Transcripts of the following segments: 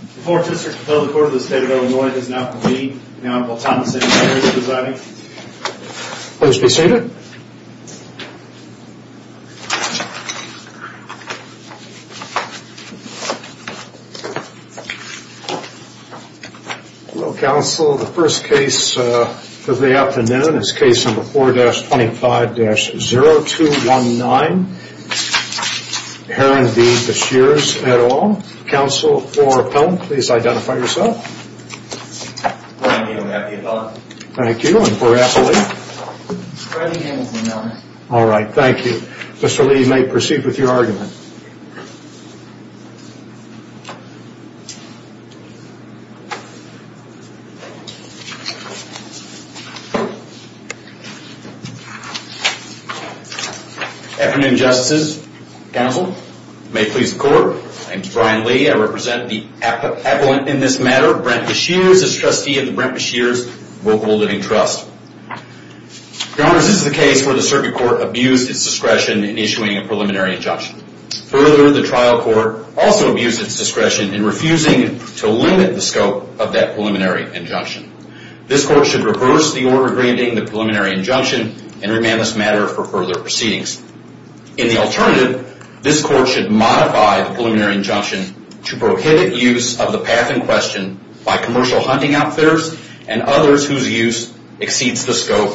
The 4th District Public Court of the State of Illinois has now convened and Honorable Thomas A. Beshears is presiding. Please be seated. Hello, counsel. The first case of the afternoon is case number 4-25-0219, Heren v. Beshears, et al. Counsel for Pelham, please identify yourself. Brian A. McAfee, et al. Thank you. And for Appley? Freddie A. McNamara. All right. Thank you. Mr. Lee, you may proceed with your argument. Afternoon, Justices. Counsel, may it please the Court, my name is Brian Lee. I represent the appellant in this matter, Brent Beshears, as trustee of the Brent Beshears Vocable Living Trust. Your Honors, this is a case where the circuit court abused its discretion in issuing a preliminary injunction. Further, the trial court also abused its discretion in refusing to limit the scope of that preliminary injunction. This Court should reverse the order granting the preliminary injunction and remand this matter for further proceedings. In the alternative, this Court should modify the preliminary injunction to prohibit use of the path in question by commercial hunting outfitters and others whose use exceeds the scope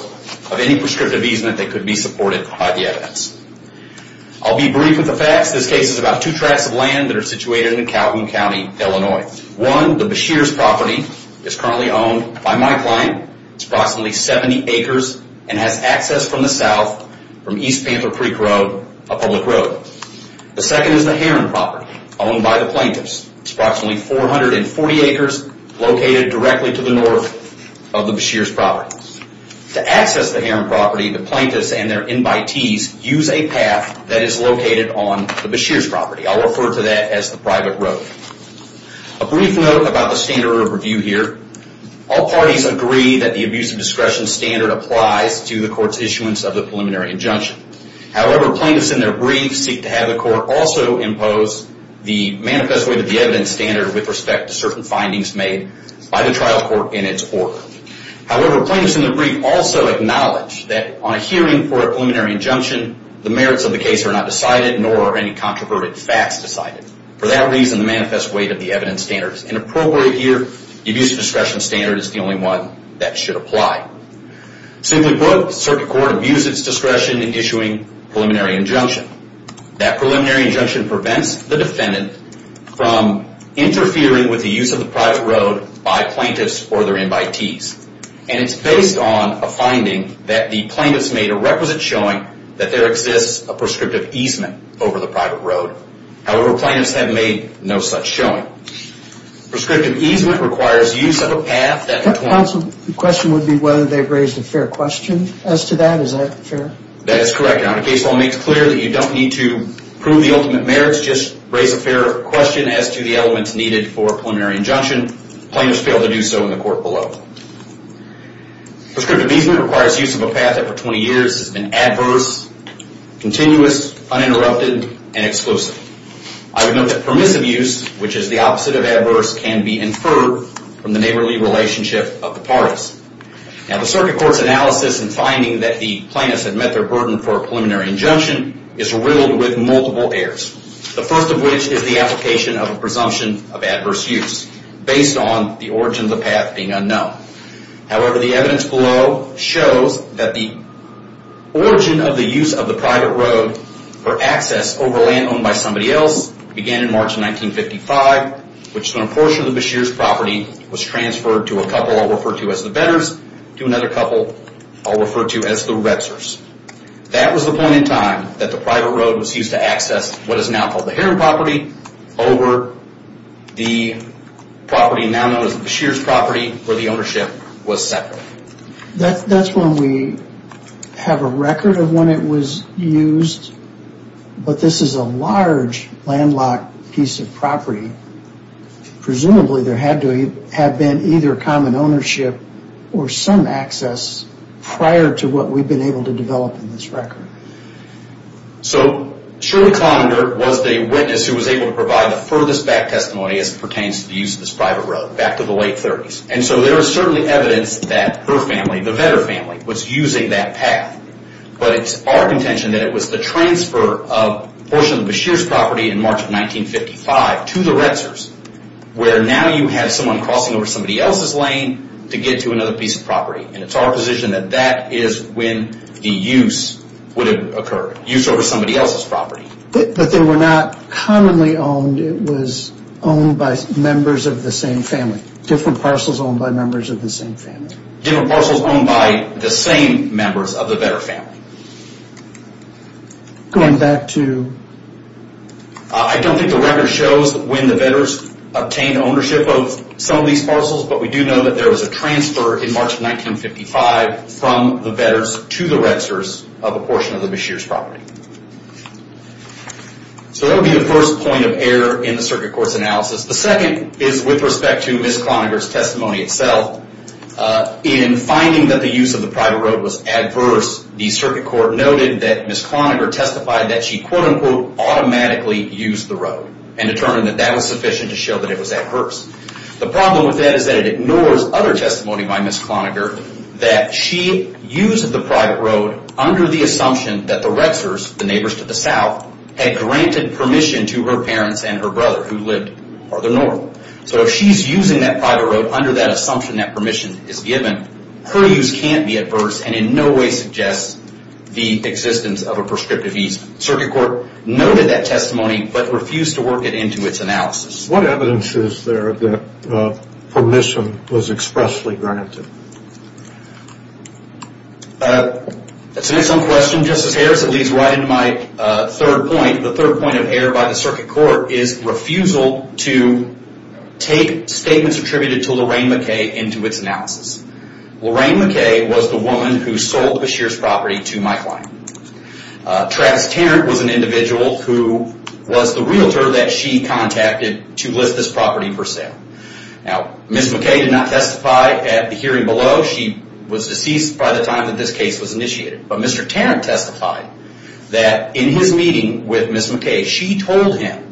of any prescriptive easement that could be supported by the evidence. I'll be brief with the facts. This case is about two tracts of land that are situated in Calhoun County, Illinois. One, the Beshears property, is currently owned by my client. It's approximately 70 acres and has access from the south, from East Panther Creek Road, a public road. The second is the Heron property, owned by the plaintiffs. It's approximately 440 acres, located directly to the north of the Beshears property. To access the Heron property, the plaintiffs and their invitees use a path that is located on the Beshears property. I'll refer to that as the private road. A brief note about the standard of review here. All parties agree that the abuse of discretion standard applies to the court's issuance of the preliminary injunction. However, plaintiffs in their brief seek to have the court also impose the manifest way to the evidence standard with respect to certain findings made by the trial court in its order. However, plaintiffs in their brief also acknowledge that on a hearing for a preliminary injunction, the merits of the case are not decided, nor are any controversial facts decided. For that reason, the manifest way to the evidence standard is inappropriate here. The abuse of discretion standard is the only one that should apply. Simply put, the circuit court abuses discretion in issuing preliminary injunction. That preliminary injunction prevents the defendant from interfering with the use of the private road by plaintiffs or their invitees. And it's based on a finding that the plaintiffs made a requisite showing that there exists a prescriptive easement over the private road. However, plaintiffs have made no such showing. Prescriptive easement requires use of a path that... The question would be whether they've raised a fair question as to that. Is that fair? That is correct. Now, the case law makes clear that you don't need to prove the ultimate merits. Just raise a fair question as to the elements needed for a preliminary injunction. Plaintiffs fail to do so in the court below. Prescriptive easement requires use of a path that for 20 years has been adverse, continuous, uninterrupted, and exclusive. I would note that permissive use, which is the opposite of adverse, can be inferred from the neighborly relationship of the parties. Now, the circuit court's analysis and finding that the plaintiffs had met their burden for a preliminary injunction is riddled with multiple errors. The first of which is the application of a presumption of adverse use based on the origin of the path being unknown. However, the evidence below shows that the origin of the use of the private road for access over land owned by somebody else began in March of 1955, which is when a portion of the Beshears property was transferred to a couple I'll refer to as the Betters, to another couple I'll refer to as the Retzers. That was the point in time that the private road was used to access what is now called the Heron property over the property now known as the Beshears property, where the ownership was separate. That's when we have a record of when it was used, but this is a large landlocked piece of property. Presumably, there had to have been either common ownership or some access prior to what we've been able to develop in this record. So, Shirley Clonender was the witness who was able to provide the furthest back testimony as it pertains to the use of this private road, back to the late 30s. And so, there is certainly evidence that her family, the Better family, was using that path. But it's our contention that it was the transfer of a portion of the Beshears property in March of 1955 to the Retzers, where now you have someone crossing over somebody else's lane to get to another piece of property. And it's our position that that is when the use would have occurred, use over somebody else's property. But they were not commonly owned, it was owned by members of the same family? Different parcels owned by members of the same family? Different parcels owned by the same members of the Better family. Going back to... I don't think the record shows when the Betters obtained ownership of some of these parcels, but we do know that there was a transfer in March of 1955 from the Betters to the Retzers of a portion of the Beshears property. So that would be the first point of error in the Circuit Court's analysis. The second is with respect to Ms. Cloninger's testimony itself. In finding that the use of the private road was adverse, the Circuit Court noted that Ms. Cloninger testified that she quote-unquote automatically used the road and determined that that was sufficient to show that it was adverse. The problem with that is that it ignores other testimony by Ms. Cloninger that she used the private road under the assumption that the Retzers, the neighbors to the south, had granted permission to her parents and her brother who lived farther north. So if she's using that private road under that assumption that permission is given, her use can't be adverse and in no way suggests the existence of a prescriptive use. The Circuit Court noted that testimony but refused to work it into its analysis. What evidence is there that permission was expressly granted? To answer some questions, Justice Harris, it leads right into my third point. The third point of error by the Circuit Court is refusal to take statements attributed to Lorraine McKay into its analysis. Lorraine McKay was the woman who sold Beshears property to my client. Travis Tarrant was an individual who was the realtor that she contacted to list this property for sale. Ms. McKay did not testify at the hearing below. She was deceased by the time that this case was initiated. But Mr. Tarrant testified that in his meeting with Ms. McKay, she told him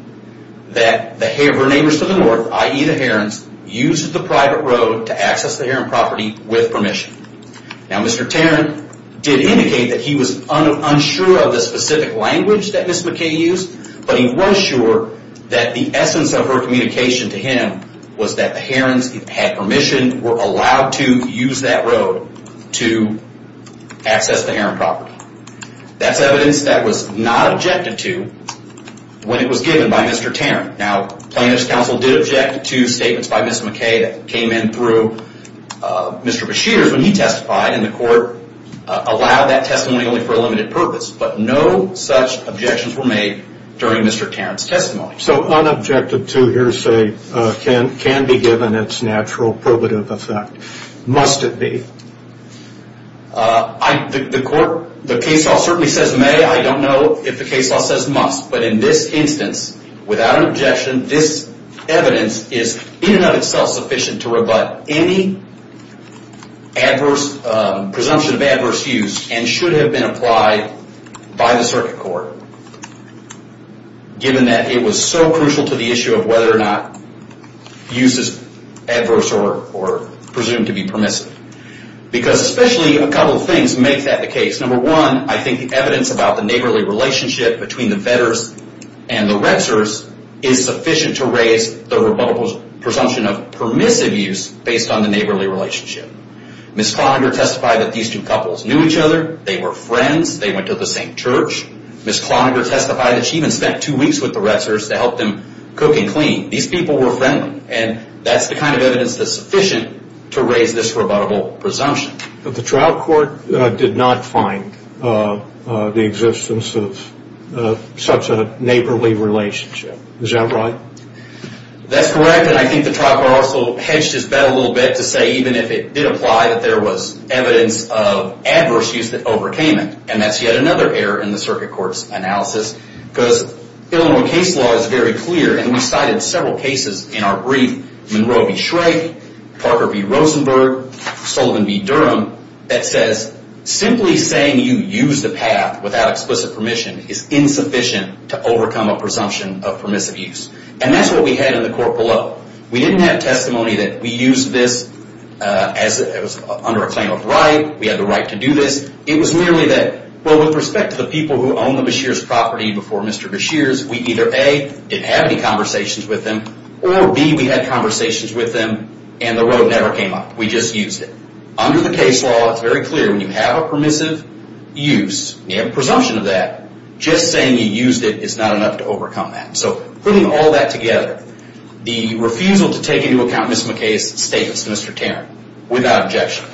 that her neighbors to the north, i.e. the Herons, used the private road to access the Heron property with permission. Now Mr. Tarrant did indicate that he was unsure of the specific language that Ms. McKay used, but he was sure that the essence of her communication to him was that the Herons had permission, were allowed to use that road to access the Heron property. That's evidence that was not objected to when it was given by Mr. Tarrant. Now plaintiff's counsel did object to statements by Ms. McKay that came in through Mr. Beshears when he testified, and the court allowed that testimony only for a limited purpose. But no such objections were made during Mr. Tarrant's testimony. So unobjected to hearsay can be given its natural probative effect. Must it be? The case law certainly says may. I don't know if the case law says must. But in this instance, without an objection, this evidence is in and of itself sufficient to rebut any presumption of adverse use and should have been applied by the circuit court, given that it was so crucial to the issue of whether or not use is adverse or presumed to be permissive. Because especially a couple of things make that the case. Number one, I think the evidence about the neighborly relationship between the Vedders and the Retzers is sufficient to raise the presumption of permissive use based on the neighborly relationship. Ms. Cloninger testified that these two couples knew each other. They were friends. They went to the same church. Ms. Cloninger testified that she even spent two weeks with the Retzers to help them cook and clean. These people were friendly. And that's the kind of evidence that's sufficient to raise this rebuttable presumption. But the trial court did not find the existence of such a neighborly relationship. Is that right? That's correct. And I think the trial court also hedged his bet a little bit to say even if it did apply, that there was evidence of adverse use that overcame it. And that's yet another error in the circuit court's analysis. Because Illinois case law is very clear, and we cited several cases in our brief, Monroe v. Shrake, Parker v. Rosenberg, Sullivan v. Durham, that says simply saying you use the path without explicit permission is insufficient to overcome a presumption of permissive use. And that's what we had in the court below. We didn't have testimony that we used this under a claim of right. We had the right to do this. It was merely that, well, with respect to the people who own the Beshears property before Mr. Beshears, we either, A, didn't have any conversations with them, or, B, we had conversations with them and the road never came up. We just used it. Under the case law, it's very clear when you have a permissive use, you have a presumption of that, just saying you used it is not enough to overcome that. So putting all that together, the refusal to take into account Ms. McKay's statements, Mr. Tarrant, without objection,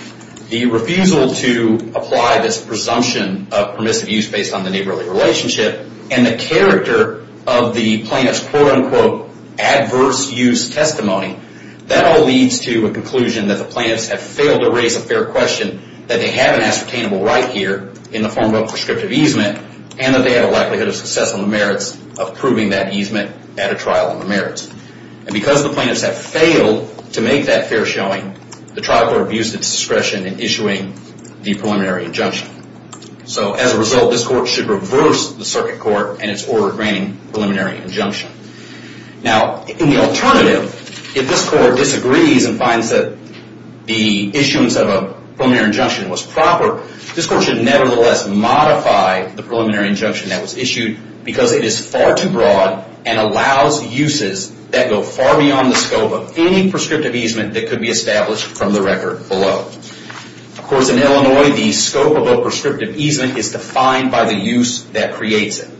the refusal to apply this presumption of permissive use based on the neighborly relationship, and the character of the plaintiff's quote-unquote adverse use testimony, that all leads to a conclusion that the plaintiffs have failed to raise a fair question that they have an ascertainable right here in the form of prescriptive easement and that they have a likelihood of success on the merits of proving that easement at a trial on the merits. And because the plaintiffs have failed to make that fair showing, the trial court abused its discretion in issuing the preliminary injunction. So as a result, this court should reverse the circuit court and its order granting preliminary injunction. Now, in the alternative, if this court disagrees and finds that the issuance of a preliminary injunction was proper, this court should nevertheless modify the preliminary injunction that was issued because it is far too broad and allows uses that go far beyond the scope of any prescriptive easement that could be established from the record below. Of course, in Illinois, the scope of a prescriptive easement is defined by the use that creates it.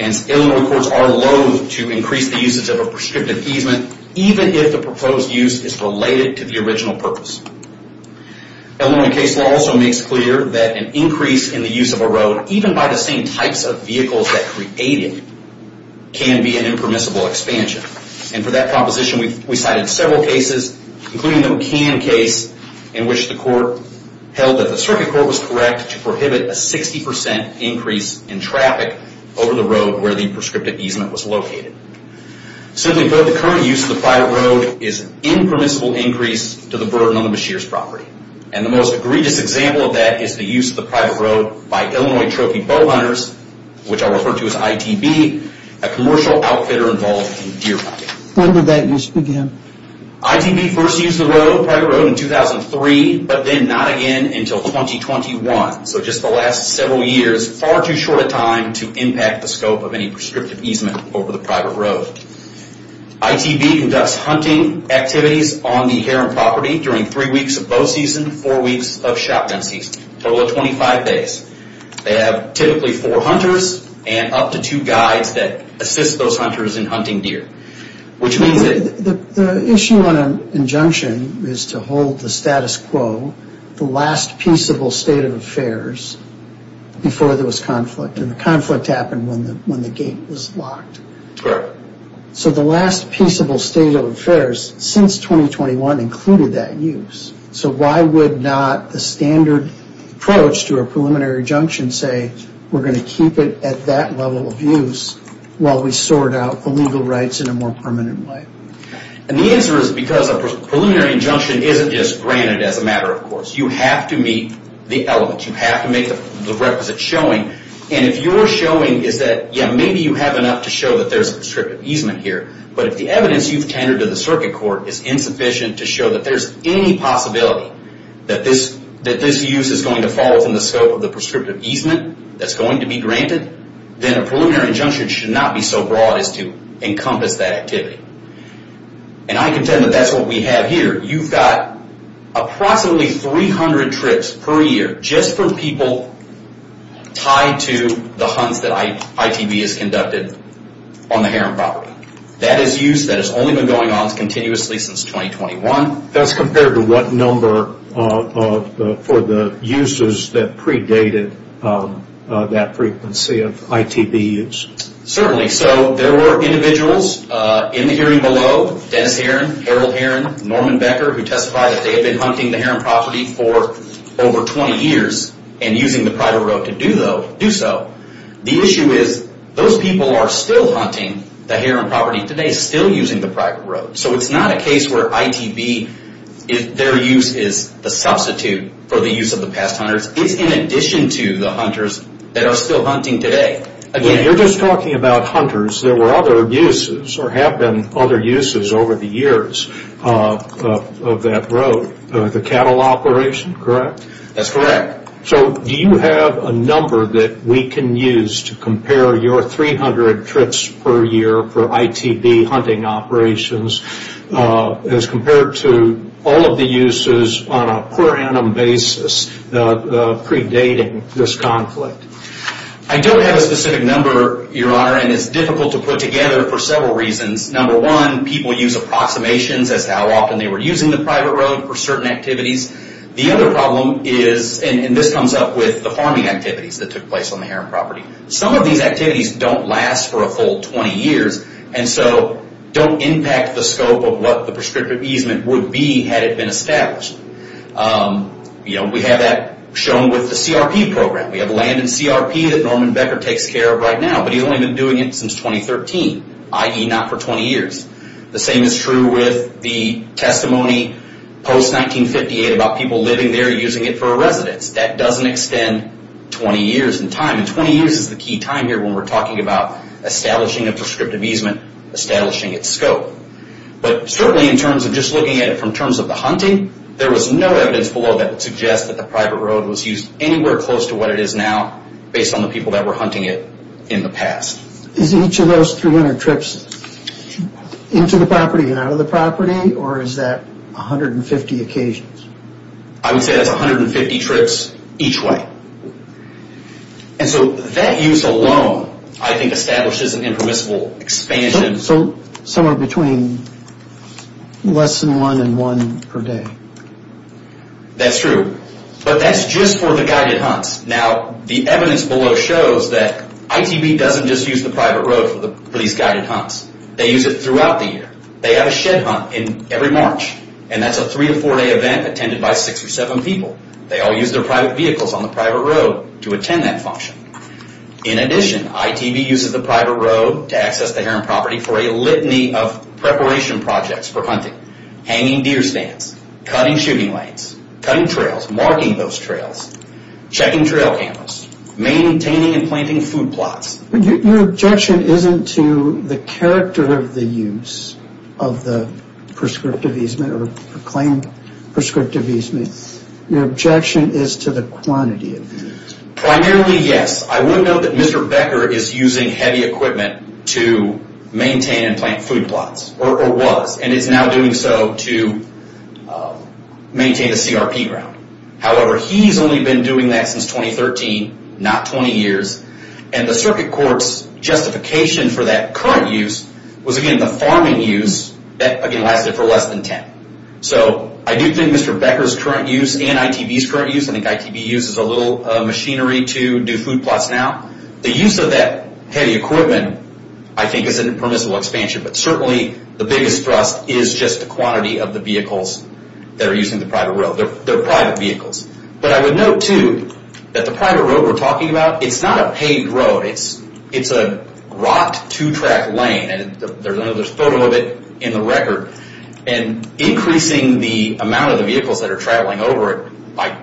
And Illinois courts are loathe to increase the usage of a prescriptive easement even if the proposed use is related to the original purpose. Illinois case law also makes clear that an increase in the use of a road, even by the same types of vehicles that create it, can be an impermissible expansion. And for that proposition, we cited several cases, including the McCann case, in which the court held that the circuit court was correct to prohibit a 60% increase in traffic over the road where the prescriptive easement was located. Simply put, the current use of the private road is an impermissible increase to the burden on the machiner's property. And the most egregious example of that is the use of the private road by Illinois trophy bow hunters, which I'll refer to as ITB, a commercial outfitter involved in deer hunting. When did that use begin? ITB first used the road, private road, in 2003, but then not again until 2021. So just the last several years, far too short a time to impact the scope of any prescriptive easement over the private road. ITB conducts hunting activities on the inherent property during three weeks of bow season, four weeks of shotgun season, a total of 25 days. They have typically four hunters and up to two guides that assist those hunters in hunting deer, which means that... The issue on an injunction is to hold the status quo, the last peaceable state of affairs, before there was conflict. And the conflict happened when the gate was locked. Correct. So the last peaceable state of affairs since 2021 included that use. So why would not a standard approach to a preliminary injunction say, we're going to keep it at that level of use while we sort out the legal rights in a more permanent way? And the answer is because a preliminary injunction isn't just granted as a matter of course. You have to meet the elements. You have to make the requisite showing. And if your showing is that, yeah, maybe you have enough to show that there's a prescriptive easement here, but if the evidence you've tendered to the circuit court is insufficient to show that there's any possibility that this use is going to fall within the scope of the prescriptive easement that's going to be granted, then a preliminary injunction should not be so broad as to encompass that activity. And I contend that that's what we have here. You've got approximately 300 trips per year just for people tied to the hunts that ITB has conducted on the Heron property. That is use that has only been going on continuously since 2021. That's compared to what number for the uses that predated that frequency of ITB use. Certainly. So there were individuals in the hearing below, Dennis Heron, Harold Heron, Norman Becker, who testified that they had been hunting the Heron property for over 20 years and using the private road to do so. The issue is those people are still hunting the Heron property today, still using the private road. So it's not a case where ITB, their use is the substitute for the use of the past hunters. It's in addition to the hunters that are still hunting today. You're just talking about hunters. There were other uses or have been other uses over the years of that road. The cattle operation, correct? That's correct. So do you have a number that we can use to compare your 300 trips per year for ITB hunting operations as compared to all of the uses on a per annum basis predating this conflict? I don't have a specific number, Your Honor, and it's difficult to put together for several reasons. Number one, people use approximations as to how often they were using the private road for certain activities. The other problem is, and this comes up with the farming activities that took place on the Heron property. Some of these activities don't last for a full 20 years, and so don't impact the scope of what the prescriptive easement would be had it been established. We have that shown with the CRP program. We have land in CRP that Norman Becker takes care of right now, but he's only been doing it since 2013, i.e. not for 20 years. The same is true with the testimony post-1958 about people living there using it for a residence. That doesn't extend 20 years in time, and 20 years is the key time here when we're talking about establishing a prescriptive easement, establishing its scope. But certainly in terms of just looking at it from terms of the hunting, there was no evidence below that would suggest that the private road was used anywhere close to what it is now based on the people that were hunting it in the past. Is each of those 300 trips into the property and out of the property, or is that 150 occasions? I would say that's 150 trips each way. And so that use alone, I think, establishes an impermissible expansion. So somewhere between less than one and one per day. That's true. But that's just for the guided hunts. Now, the evidence below shows that ITB doesn't just use the private road for these guided hunts. They use it throughout the year. They have a shed hunt in every March, and that's a three- to four-day event attended by six or seven people. They all use their private vehicles on the private road to attend that function. In addition, ITB uses the private road to access the Heron property for a litany of preparation projects for hunting. Hanging deer stands, cutting shooting lanes, cutting trails, marking those trails, checking trail cameras, maintaining and planting food plots. Your objection isn't to the character of the use of the prescriptive easement or claimed prescriptive easement. Your objection is to the quantity of the use. Primarily, yes. I would note that Mr. Becker is using heavy equipment to maintain and plant food plots, or was, and is now doing so to maintain a CRP ground. However, he's only been doing that since 2013, not 20 years. And the circuit court's justification for that current use was, again, the farming use that, again, lasted for less than 10. So I do think Mr. Becker's current use and ITB's current use, I think ITB uses a little machinery to do food plots now. The use of that heavy equipment, I think, is a permissible expansion. But certainly the biggest thrust is just the quantity of the vehicles that are using the private road. They're private vehicles. But I would note, too, that the private road we're talking about, it's not a paid road. It's a rocked two-track lane, and there's another photo of it in the record. And increasing the amount of the vehicles that are traveling over it by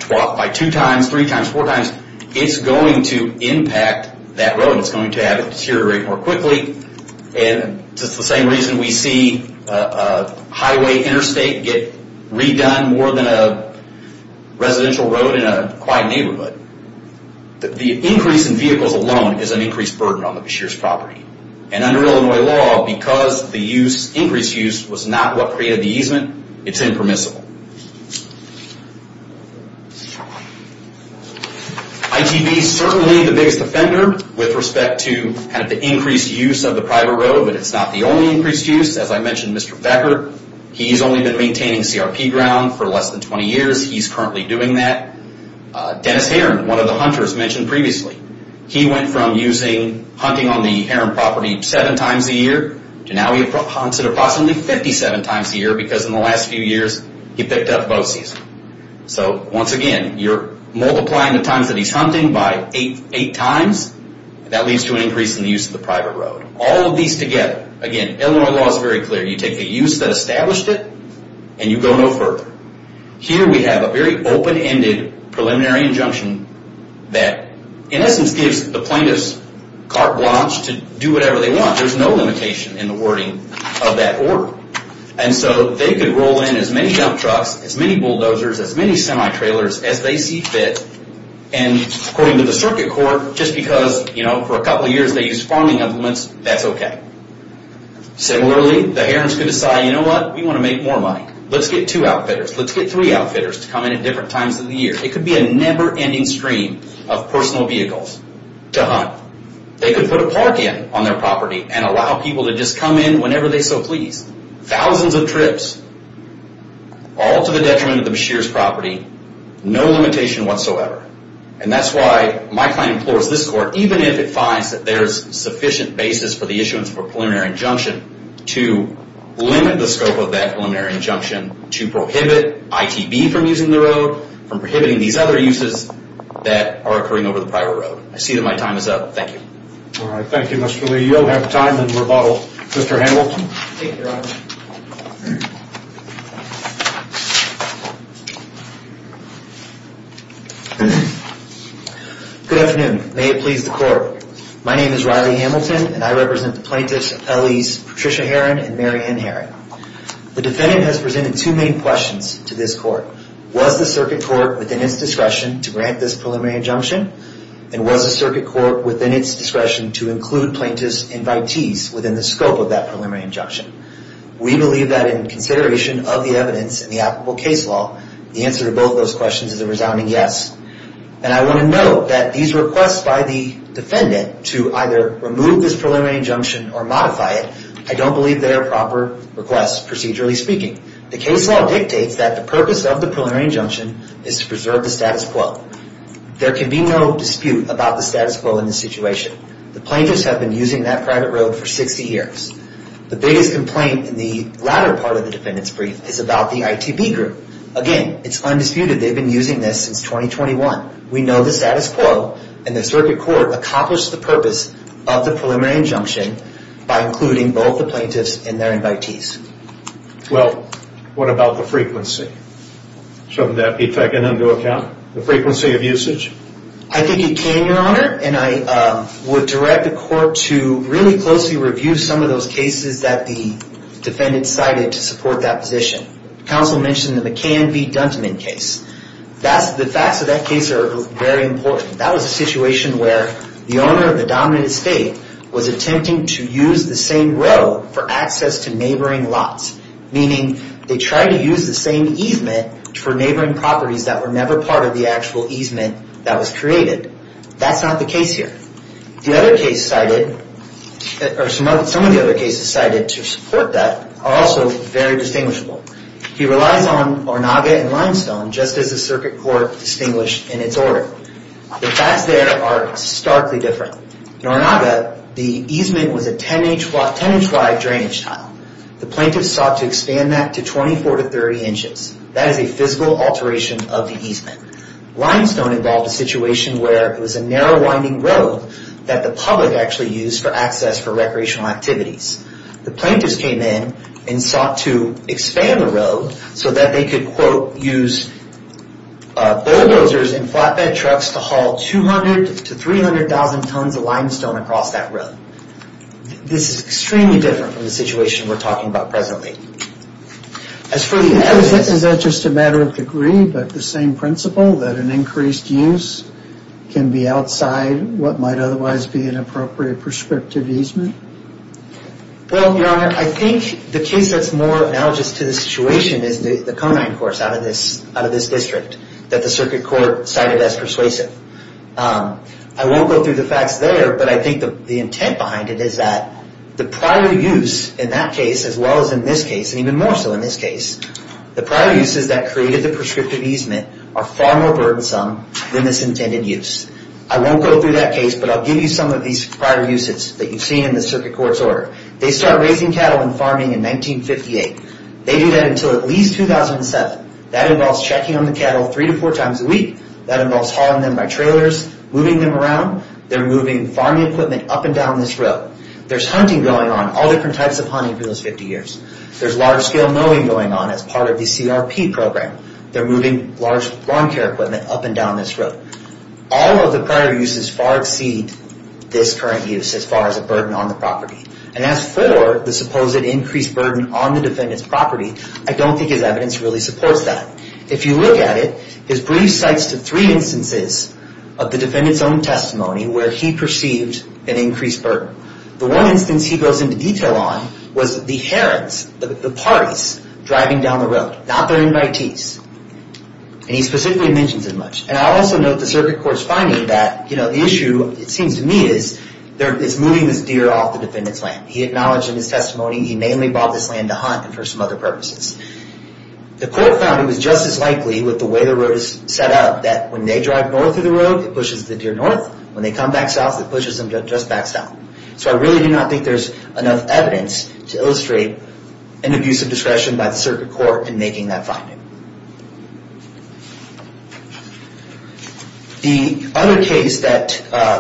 two times, three times, four times, it's going to impact that road. It's going to have it deteriorate more quickly. And it's the same reason we see a highway interstate get redone more than a residential road in a quiet neighborhood. The increase in vehicles alone is an increased burden on the Beshears property. And under Illinois law, because the increased use was not what created the easement, it's impermissible. ITB's certainly the biggest offender with respect to the increased use of the private road, but it's not the only increased use. As I mentioned, Mr. Becker, he's only been maintaining CRP ground for less than 20 years. He's currently doing that. Dennis Herron, one of the hunters mentioned previously, he went from hunting on the Herron property seven times a year to now he hunts it approximately 57 times a year because in the last few years he picked up bogeys. So, once again, you're multiplying the times that he's hunting by eight times. That leads to an increase in the use of the private road. All of these together, again, Illinois law is very clear. You take the use that established it, and you go no further. Here we have a very open-ended preliminary injunction that, in essence, gives the plaintiffs carte blanche to do whatever they want. There's no limitation in the wording of that order. And so they could roll in as many dump trucks, as many bulldozers, as many semi-trailers as they see fit, and according to the circuit court, just because for a couple of years they used farming implements, that's okay. Similarly, the Herrons could decide, you know what, we want to make more money. Let's get two outfitters, let's get three outfitters to come in at different times of the year. It could be a never-ending stream of personal vehicles to hunt. They could put a park in on their property and allow people to just come in whenever they so please. Thousands of trips, all to the detriment of the Beshears property, no limitation whatsoever. And that's why my client implores this court, even if it finds that there's sufficient basis for the issuance of a preliminary injunction, to limit the scope of that preliminary injunction to prohibit ITB from using the road, from prohibiting these other uses that are occurring over the private road. I see that my time is up. Thank you. All right. Thank you, Mr. Lee. You'll have time to rebuttal Mr. Hamilton. Thank you, Your Honor. Good afternoon. May it please the court. My name is Riley Hamilton, and I represent the plaintiffs' appellees Patricia Herron and Mary Ann Herron. The defendant has presented two main questions to this court. Was the circuit court within its discretion to grant this preliminary injunction? And was the circuit court within its discretion to include plaintiffs' invitees within the scope of that preliminary injunction? We believe that in consideration of the evidence in the applicable case law, the answer to both those questions is a resounding yes. And I want to note that these requests by the defendant to either remove this preliminary injunction or modify it, I don't believe they are proper requests, procedurally speaking. The case law dictates that the purpose of the preliminary injunction is to preserve the status quo. There can be no dispute about the status quo in this situation. The plaintiffs have been using that private road for 60 years. The biggest complaint in the latter part of the defendant's brief is about the ITB group. Again, it's undisputed they've been using this since 2021. We know the status quo, and the circuit court accomplished the purpose of the preliminary injunction by including both the plaintiffs and their invitees. Well, what about the frequency? Shouldn't that be taken into account? The frequency of usage? I think it can, Your Honor, and I would direct the court to really closely review some of those cases that the defendant cited to support that position. The counsel mentioned the McCann v. Dunteman case. The facts of that case are very important. That was a situation where the owner of the dominant estate was attempting to use the same road for access to neighboring lots, meaning they tried to use the same easement for neighboring properties that were never part of the actual easement that was created. That's not the case here. Some of the other cases cited to support that are also very distinguishable. He relies on Ornaga and Limestone, just as the circuit court distinguished in its order. The facts there are starkly different. In Ornaga, the easement was a 10-inch wide drainage tile. The plaintiffs sought to expand that to 24 to 30 inches. That is a physical alteration of the easement. Limestone involved a situation where it was a narrow winding road that the public actually used for access for recreational activities. The plaintiffs came in and sought to expand the road so that they could, quote, use bulldozers and flatbed trucks to haul 200 to 300,000 tons of limestone across that road. This is extremely different from the situation we're talking about presently. As for the evidence, is that just a matter of degree, but the same principle, that an increased use can be outside what might otherwise be an appropriate prescriptive easement? Well, Your Honor, I think the case that's more analogous to the situation is the Conine course out of this district that the circuit court cited as persuasive. I won't go through the facts there, but I think the intent behind it is that the prior use in that case, as well as in this case, and even more so in this case, the prior uses that created the prescriptive easement are far more burdensome than this intended use. I won't go through that case, but I'll give you some of these prior uses that you've seen in the circuit court's order. They start raising cattle and farming in 1958. They do that until at least 2007. That involves checking on the cattle three to four times a week. That involves hauling them by trailers, moving them around. They're moving farming equipment up and down this road. There's hunting going on, all different types of hunting for those 50 years. There's large-scale mowing going on as part of the CRP program. They're moving large lawn care equipment up and down this road. All of the prior uses far exceed this current use as far as a burden on the property. And as for the supposed increased burden on the defendant's property, I don't think his evidence really supports that. If you look at it, his brief cites the three instances of the defendant's own testimony where he perceived an increased burden. The one instance he goes into detail on was the herons, the parties, driving down the road, not their invitees. And he specifically mentions as much. And I'll also note the circuit court's finding that, you know, the issue, it seems to me, is moving this deer off the defendant's land. He acknowledged in his testimony he mainly bought this land to hunt and for some other purposes. The court found he was just as likely with the way the road is set up that when they drive north of the road, it pushes the deer north. When they come back south, it pushes them just back south. So I really do not think there's enough evidence to illustrate an abuse of discretion by the circuit court in making that finding. The other case that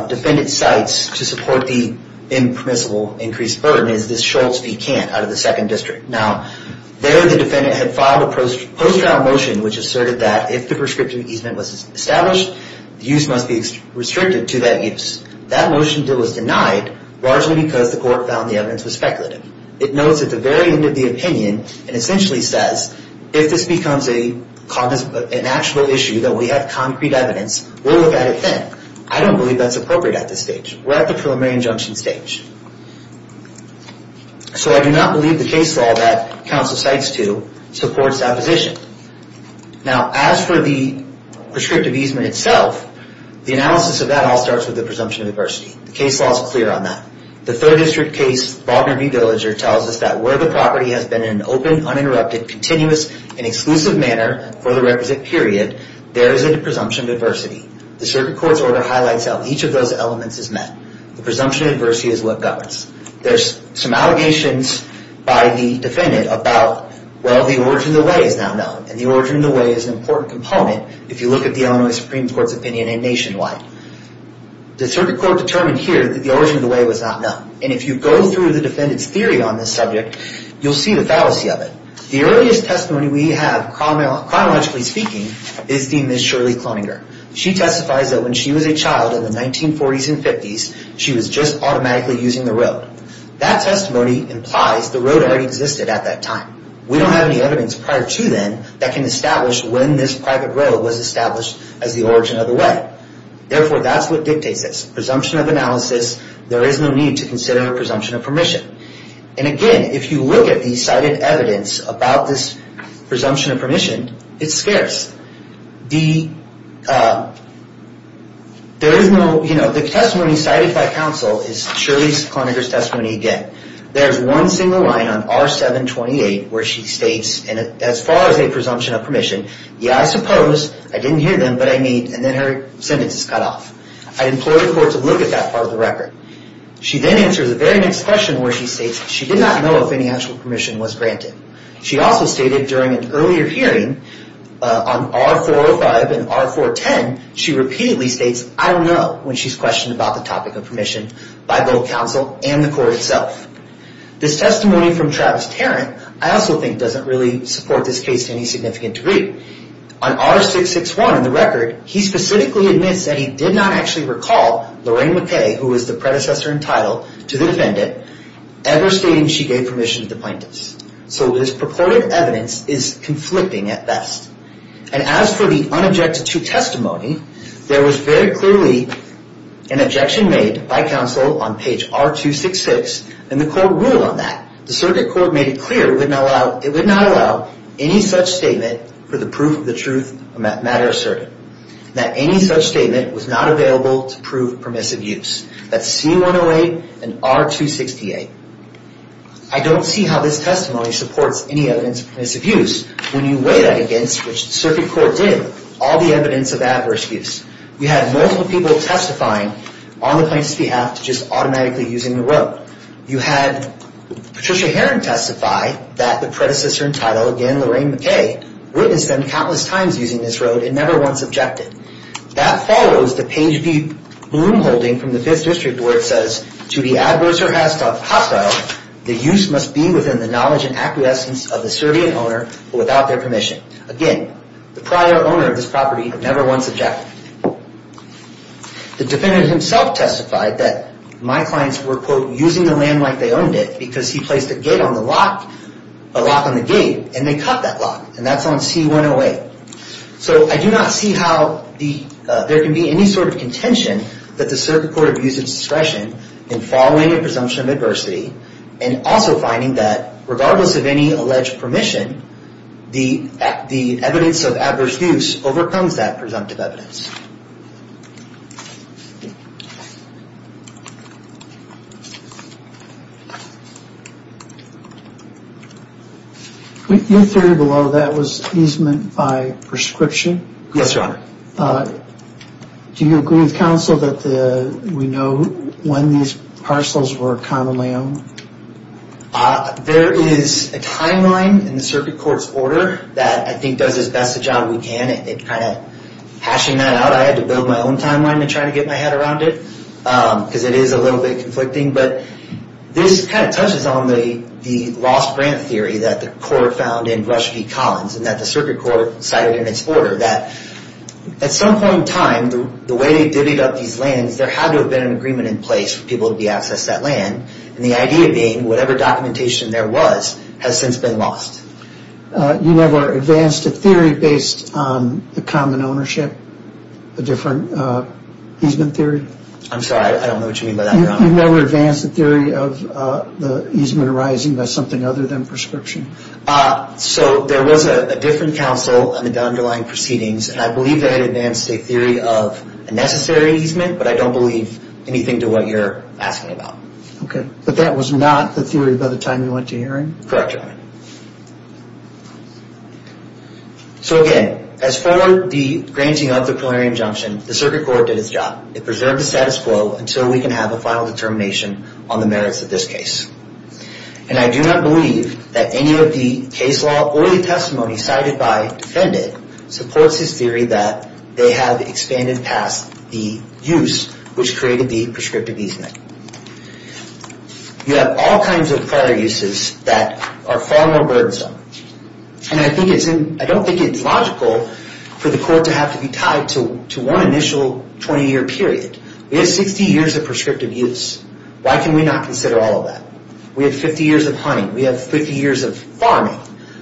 defendant cites to support the impermissible increased burden is this Schultz Pecan out of the 2nd District. Now, there the defendant had filed a post-trial motion which asserted that if the prescriptive easement was established, the use must be restricted to that use. That motion was denied largely because the court found the evidence was speculative. It notes at the very end of the opinion and essentially says, if this becomes an actual issue that we have concrete evidence, we'll look at it then. I don't believe that's appropriate at this stage. We're at the preliminary injunction stage. So I do not believe the case law that counsel cites to supports that position. Now, as for the prescriptive easement itself, the analysis of that all starts with the presumption of adversity. The case law is clear on that. The 3rd District case, Faulkner v. Villager, tells us that where the property has been in an open, uninterrupted, continuous, and exclusive manner for the requisite period, there is a presumption of adversity. The circuit court's order highlights how each of those elements is met. The presumption of adversity is what governs. There's some allegations by the defendant about, well, the origin of the way is now known. And the origin of the way is an important component if you look at the Illinois Supreme Court's opinion and nationwide. The circuit court determined here that the origin of the way was not known. And if you go through the defendant's theory on this subject, you'll see the fallacy of it. The earliest testimony we have, chronologically speaking, is the Ms. Shirley Cloninger. She testifies that when she was a child in the 1940s and 50s, she was just automatically using the road. That testimony implies the road already existed at that time. We don't have any evidence prior to then that can establish when this private road was established as the origin of the way. Therefore, that's what dictates this. Presumption of analysis, there is no need to consider a presumption of permission. And again, if you look at the cited evidence about this presumption of permission, it's scarce. The testimony cited by counsel is Shirley Cloninger's testimony again. There's one single line on R-728 where she states, as far as a presumption of permission, yeah, I suppose, I didn't hear them, but I mean, and then her sentence is cut off. I'd implore the court to look at that part of the record. She then answers the very next question where she states she did not know if any actual permission was granted. She also stated during an earlier hearing on R-405 and R-410, she repeatedly states, I don't know, when she's questioned about the topic of permission by both counsel and the court itself. This testimony from Travis Tarrant I also think doesn't really support this case to any significant degree. On R-661 in the record, he specifically admits that he did not actually recall Lorraine McKay, who was the predecessor in title to the defendant, ever stating she gave permission to the plaintiffs. So this purported evidence is conflicting at best. And as for the unobjected to testimony, there was very clearly an objection made by counsel on page R-266, and the court ruled on that. The circuit court made it clear it would not allow any such statement for the proof of the truth matter asserted, that any such statement was not available to prove permissive use. That's C-108 and R-268. I don't see how this testimony supports any evidence of permissive use when you weigh that against, which the circuit court did, all the evidence of adverse use. We had multiple people testifying on the plaintiff's behalf to just automatically using the road. You had Patricia Herron testify that the predecessor in title, again, Lorraine McKay, witnessed them countless times using this road and never once objected. That follows the page B loom holding from the 5th District where it says, to the adverse or hostile, the use must be within the knowledge and acquiescence of the serving owner, but without their permission. Again, the prior owner of this property had never once objected. The defendant himself testified that my clients were, quote, using the land like they owned it, because he placed a gate on the lock, a lock on the gate, and they cut that lock. And that's on C-108. So I do not see how there can be any sort of contention that the circuit court abused its discretion in following a presumption of adversity and also finding that, regardless of any alleged permission, the evidence of adverse use overcomes that presumptive evidence. Your theory below that was easement by prescription? Yes, Your Honor. Do you agree with counsel that we know when these parcels were commonly owned? There is a timeline in the circuit court's order that I think does as best a job we can. It kind of hashing that out. I had to build my own timeline to try to get my head around it, because it is a little bit conflicting. But this kind of touches on the lost grant theory that the court found in Rush v. Collins and that the circuit court cited in its order that at some point in time, the way they divvied up these lands, there had to have been an agreement in place for people to be accessed that land, and the idea being whatever documentation there was has since been lost. You never advanced a theory based on the common ownership, a different easement theory? I'm sorry, I don't know what you mean by that, Your Honor. You've never advanced a theory of the easement arising by something other than prescription? So there was a different counsel on the underlying proceedings, and I believe they had advanced a theory of a necessary easement, but I don't believe anything to what you're asking about. Okay, but that was not the theory by the time you went to hearing? Correct, Your Honor. So again, as for the granting of the prolary injunction, the circuit court did its job. It preserved the status quo until we can have a final determination on the merits of this case, and I do not believe that any of the case law or the testimony cited by defendant supports this theory that they have expanded past the use which created the prescriptive easement. You have all kinds of prior uses that are far more burdensome, and I don't think it's logical for the court to have to be tied to one initial 20-year period. We have 60 years of prescriptive use. Why can we not consider all of that? We have 50 years of hunting. We have 50 years of farming.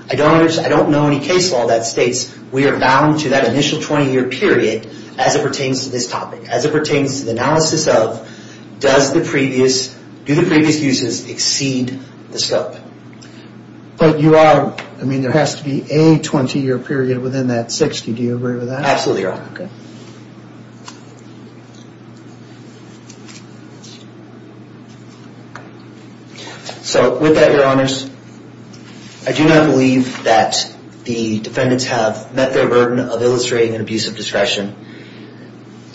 I don't know any case law that states we are bound to that initial 20-year period as it pertains to this topic, as it pertains to the analysis of do the previous uses exceed the scope? But you are, I mean, there has to be a 20-year period within that 60. Do you agree with that? Absolutely, Your Honor. So with that, Your Honors, I do not believe that the defendants have met their burden of illustrating an abuse of discretion.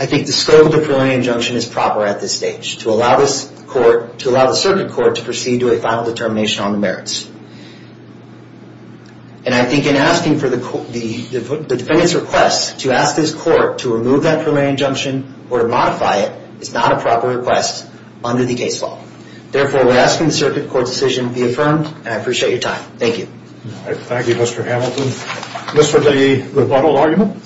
I think the scope of the prolary injunction is proper at this stage to allow this court, to allow the circuit court to proceed to a final determination on the merits. And I think in asking for the defendant's request to ask this court to remove that prolary injunction or to modify it is not a proper request under the case law. Therefore, we're asking the circuit court's decision be affirmed, and I appreciate your time. Thank you. Thank you, Mr. Hamilton. Mr. Duggee, rebuttal argument?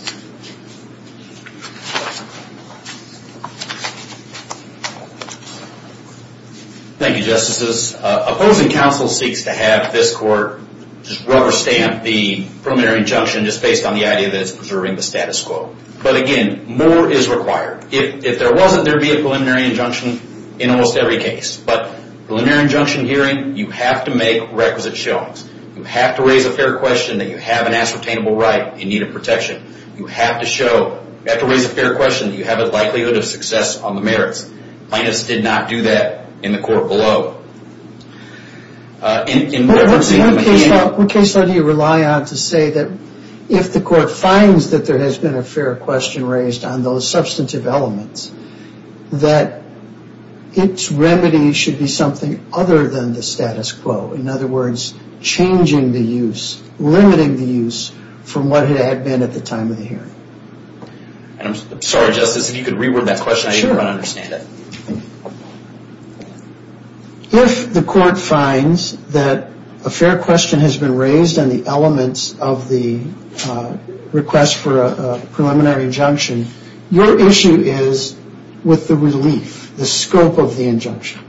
Thank you, Justices. Opposing counsel seeks to have this court just rubber stamp the preliminary injunction just based on the idea that it's preserving the status quo. But again, more is required. If there wasn't, there would be a preliminary injunction in almost every case. But preliminary injunction hearing, you have to make requisite showings. You have to raise a fair question that you have an ascertainable right in need of protection. You have to show, you have to raise a fair question that you have a likelihood of success on the merits. Plaintiffs did not do that in the court below. What case law do you rely on to say that if the court finds that there has been a fair question raised on those substantive elements, that its remedy should be something other than the status quo? In other words, changing the use, limiting the use from what it had been at the time of the hearing? I'm sorry, Justice, if you could reword that question. I didn't quite understand it. If the court finds that a fair question has been raised on the elements of the request for a preliminary injunction, your issue is with the relief, the scope of the injunction.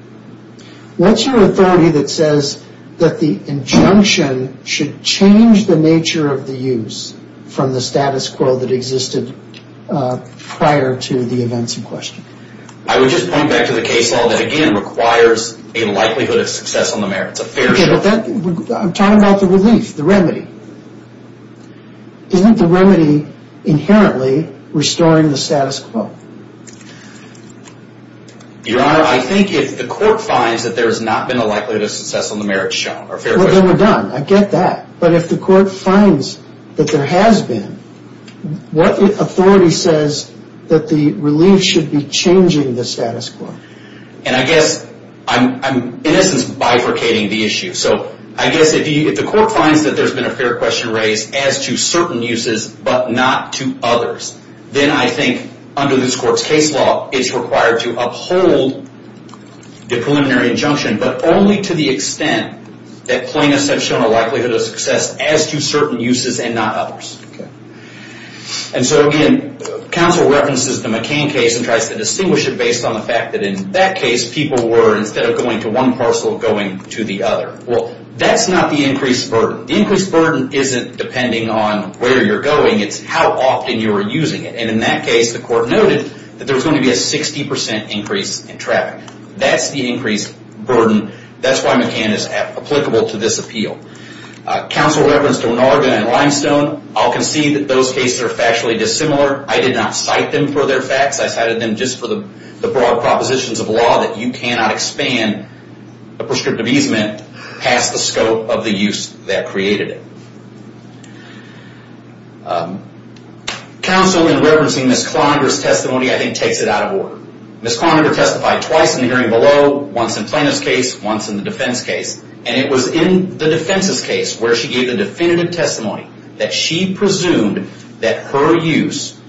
What's your authority that says that the injunction should change the nature of the use from the status quo that existed prior to the events in question? I would just point back to the case law that, again, requires a likelihood of success on the merits, a fair show. I'm talking about the relief, the remedy. Isn't the remedy inherently restoring the status quo? Your Honor, I think if the court finds that there has not been a likelihood of success on the merits shown, then we're done. I get that. But if the court finds that there has been, what authority says that the relief should be changing the status quo? I guess I'm, in essence, bifurcating the issue. I guess if the court finds that there's been a fair question raised as to certain uses but not to others, then I think under this court's case law, it's required to uphold the preliminary injunction, but only to the extent that plaintiffs have shown a likelihood of success as to certain uses and not others. Again, counsel references the McCain case and tries to distinguish it based on the fact that in that case, people were, instead of going to one parcel, going to the other. That's not the increased burden. The increased burden isn't depending on where you're going. It's how often you were using it. In that case, the court noted that there was going to be a 60% increase in traffic. That's the increased burden. That's why McCain is applicable to this appeal. Counsel referenced O'Norgen and Limestone. I'll concede that those cases are factually dissimilar. I did not cite them for their facts. I cited them just for the broad propositions of law that you cannot expand a prescriptive easement past the scope of the use that created it. Counsel, in referencing Ms. Klonderer's testimony, I think takes it out of order. Ms. Klonderer testified twice in the hearing below, once in Plano's case, once in the defense case, and it was in the defense's case where she gave the definitive testimony that she presumed that her use,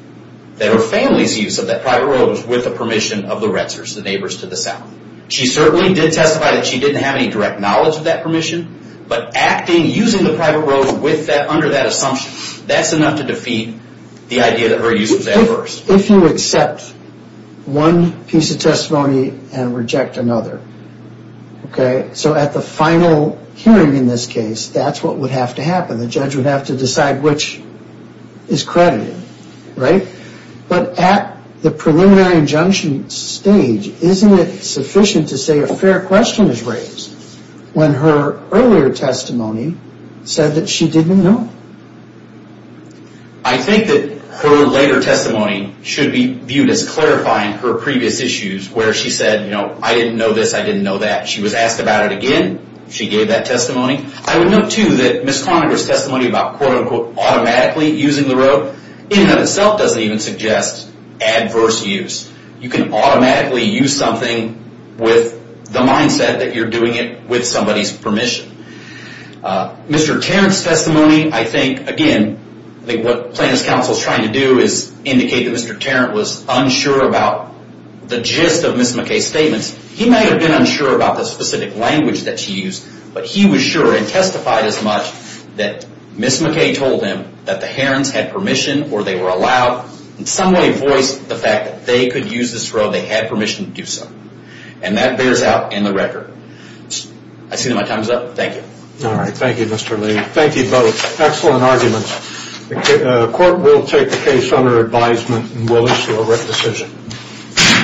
that her family's use of that private road was with the permission of the Retzers, the neighbors to the south. She certainly did testify that she didn't have any direct knowledge of that permission, but acting, using the private road under that assumption, that's enough to defeat the idea that her use was adverse. If you accept one piece of testimony and reject another, okay, so at the final hearing in this case, that's what would have to happen. The judge would have to decide which is credited, right? But at the preliminary injunction stage, isn't it sufficient to say a fair question is raised when her earlier testimony said that she didn't know? I think that her later testimony should be viewed as clarifying her previous issues where she said, you know, I didn't know this, I didn't know that. She was asked about it again. She gave that testimony. I would note, too, that Ms. Klonderer's testimony about quote-unquote automatically using the road in and of itself doesn't even suggest adverse use. You can automatically use something with the mindset that you're doing it with somebody's permission. Mr. Tarrant's testimony, I think, again, I think what plaintiff's counsel is trying to do is indicate that Mr. Tarrant was unsure about the gist of Ms. McKay's statements. He might have been unsure about the specific language that she used, but he was sure and testified as much that Ms. McKay told him that the Herons had permission or they were allowed in some way voice the fact that they could use this road, they had permission to do so. And that bears out in the record. I see that my time is up. Thank you. All right. Thank you, Mr. Lee. Thank you both. Excellent arguments. The court will take the case under advisement and will issue a written decision.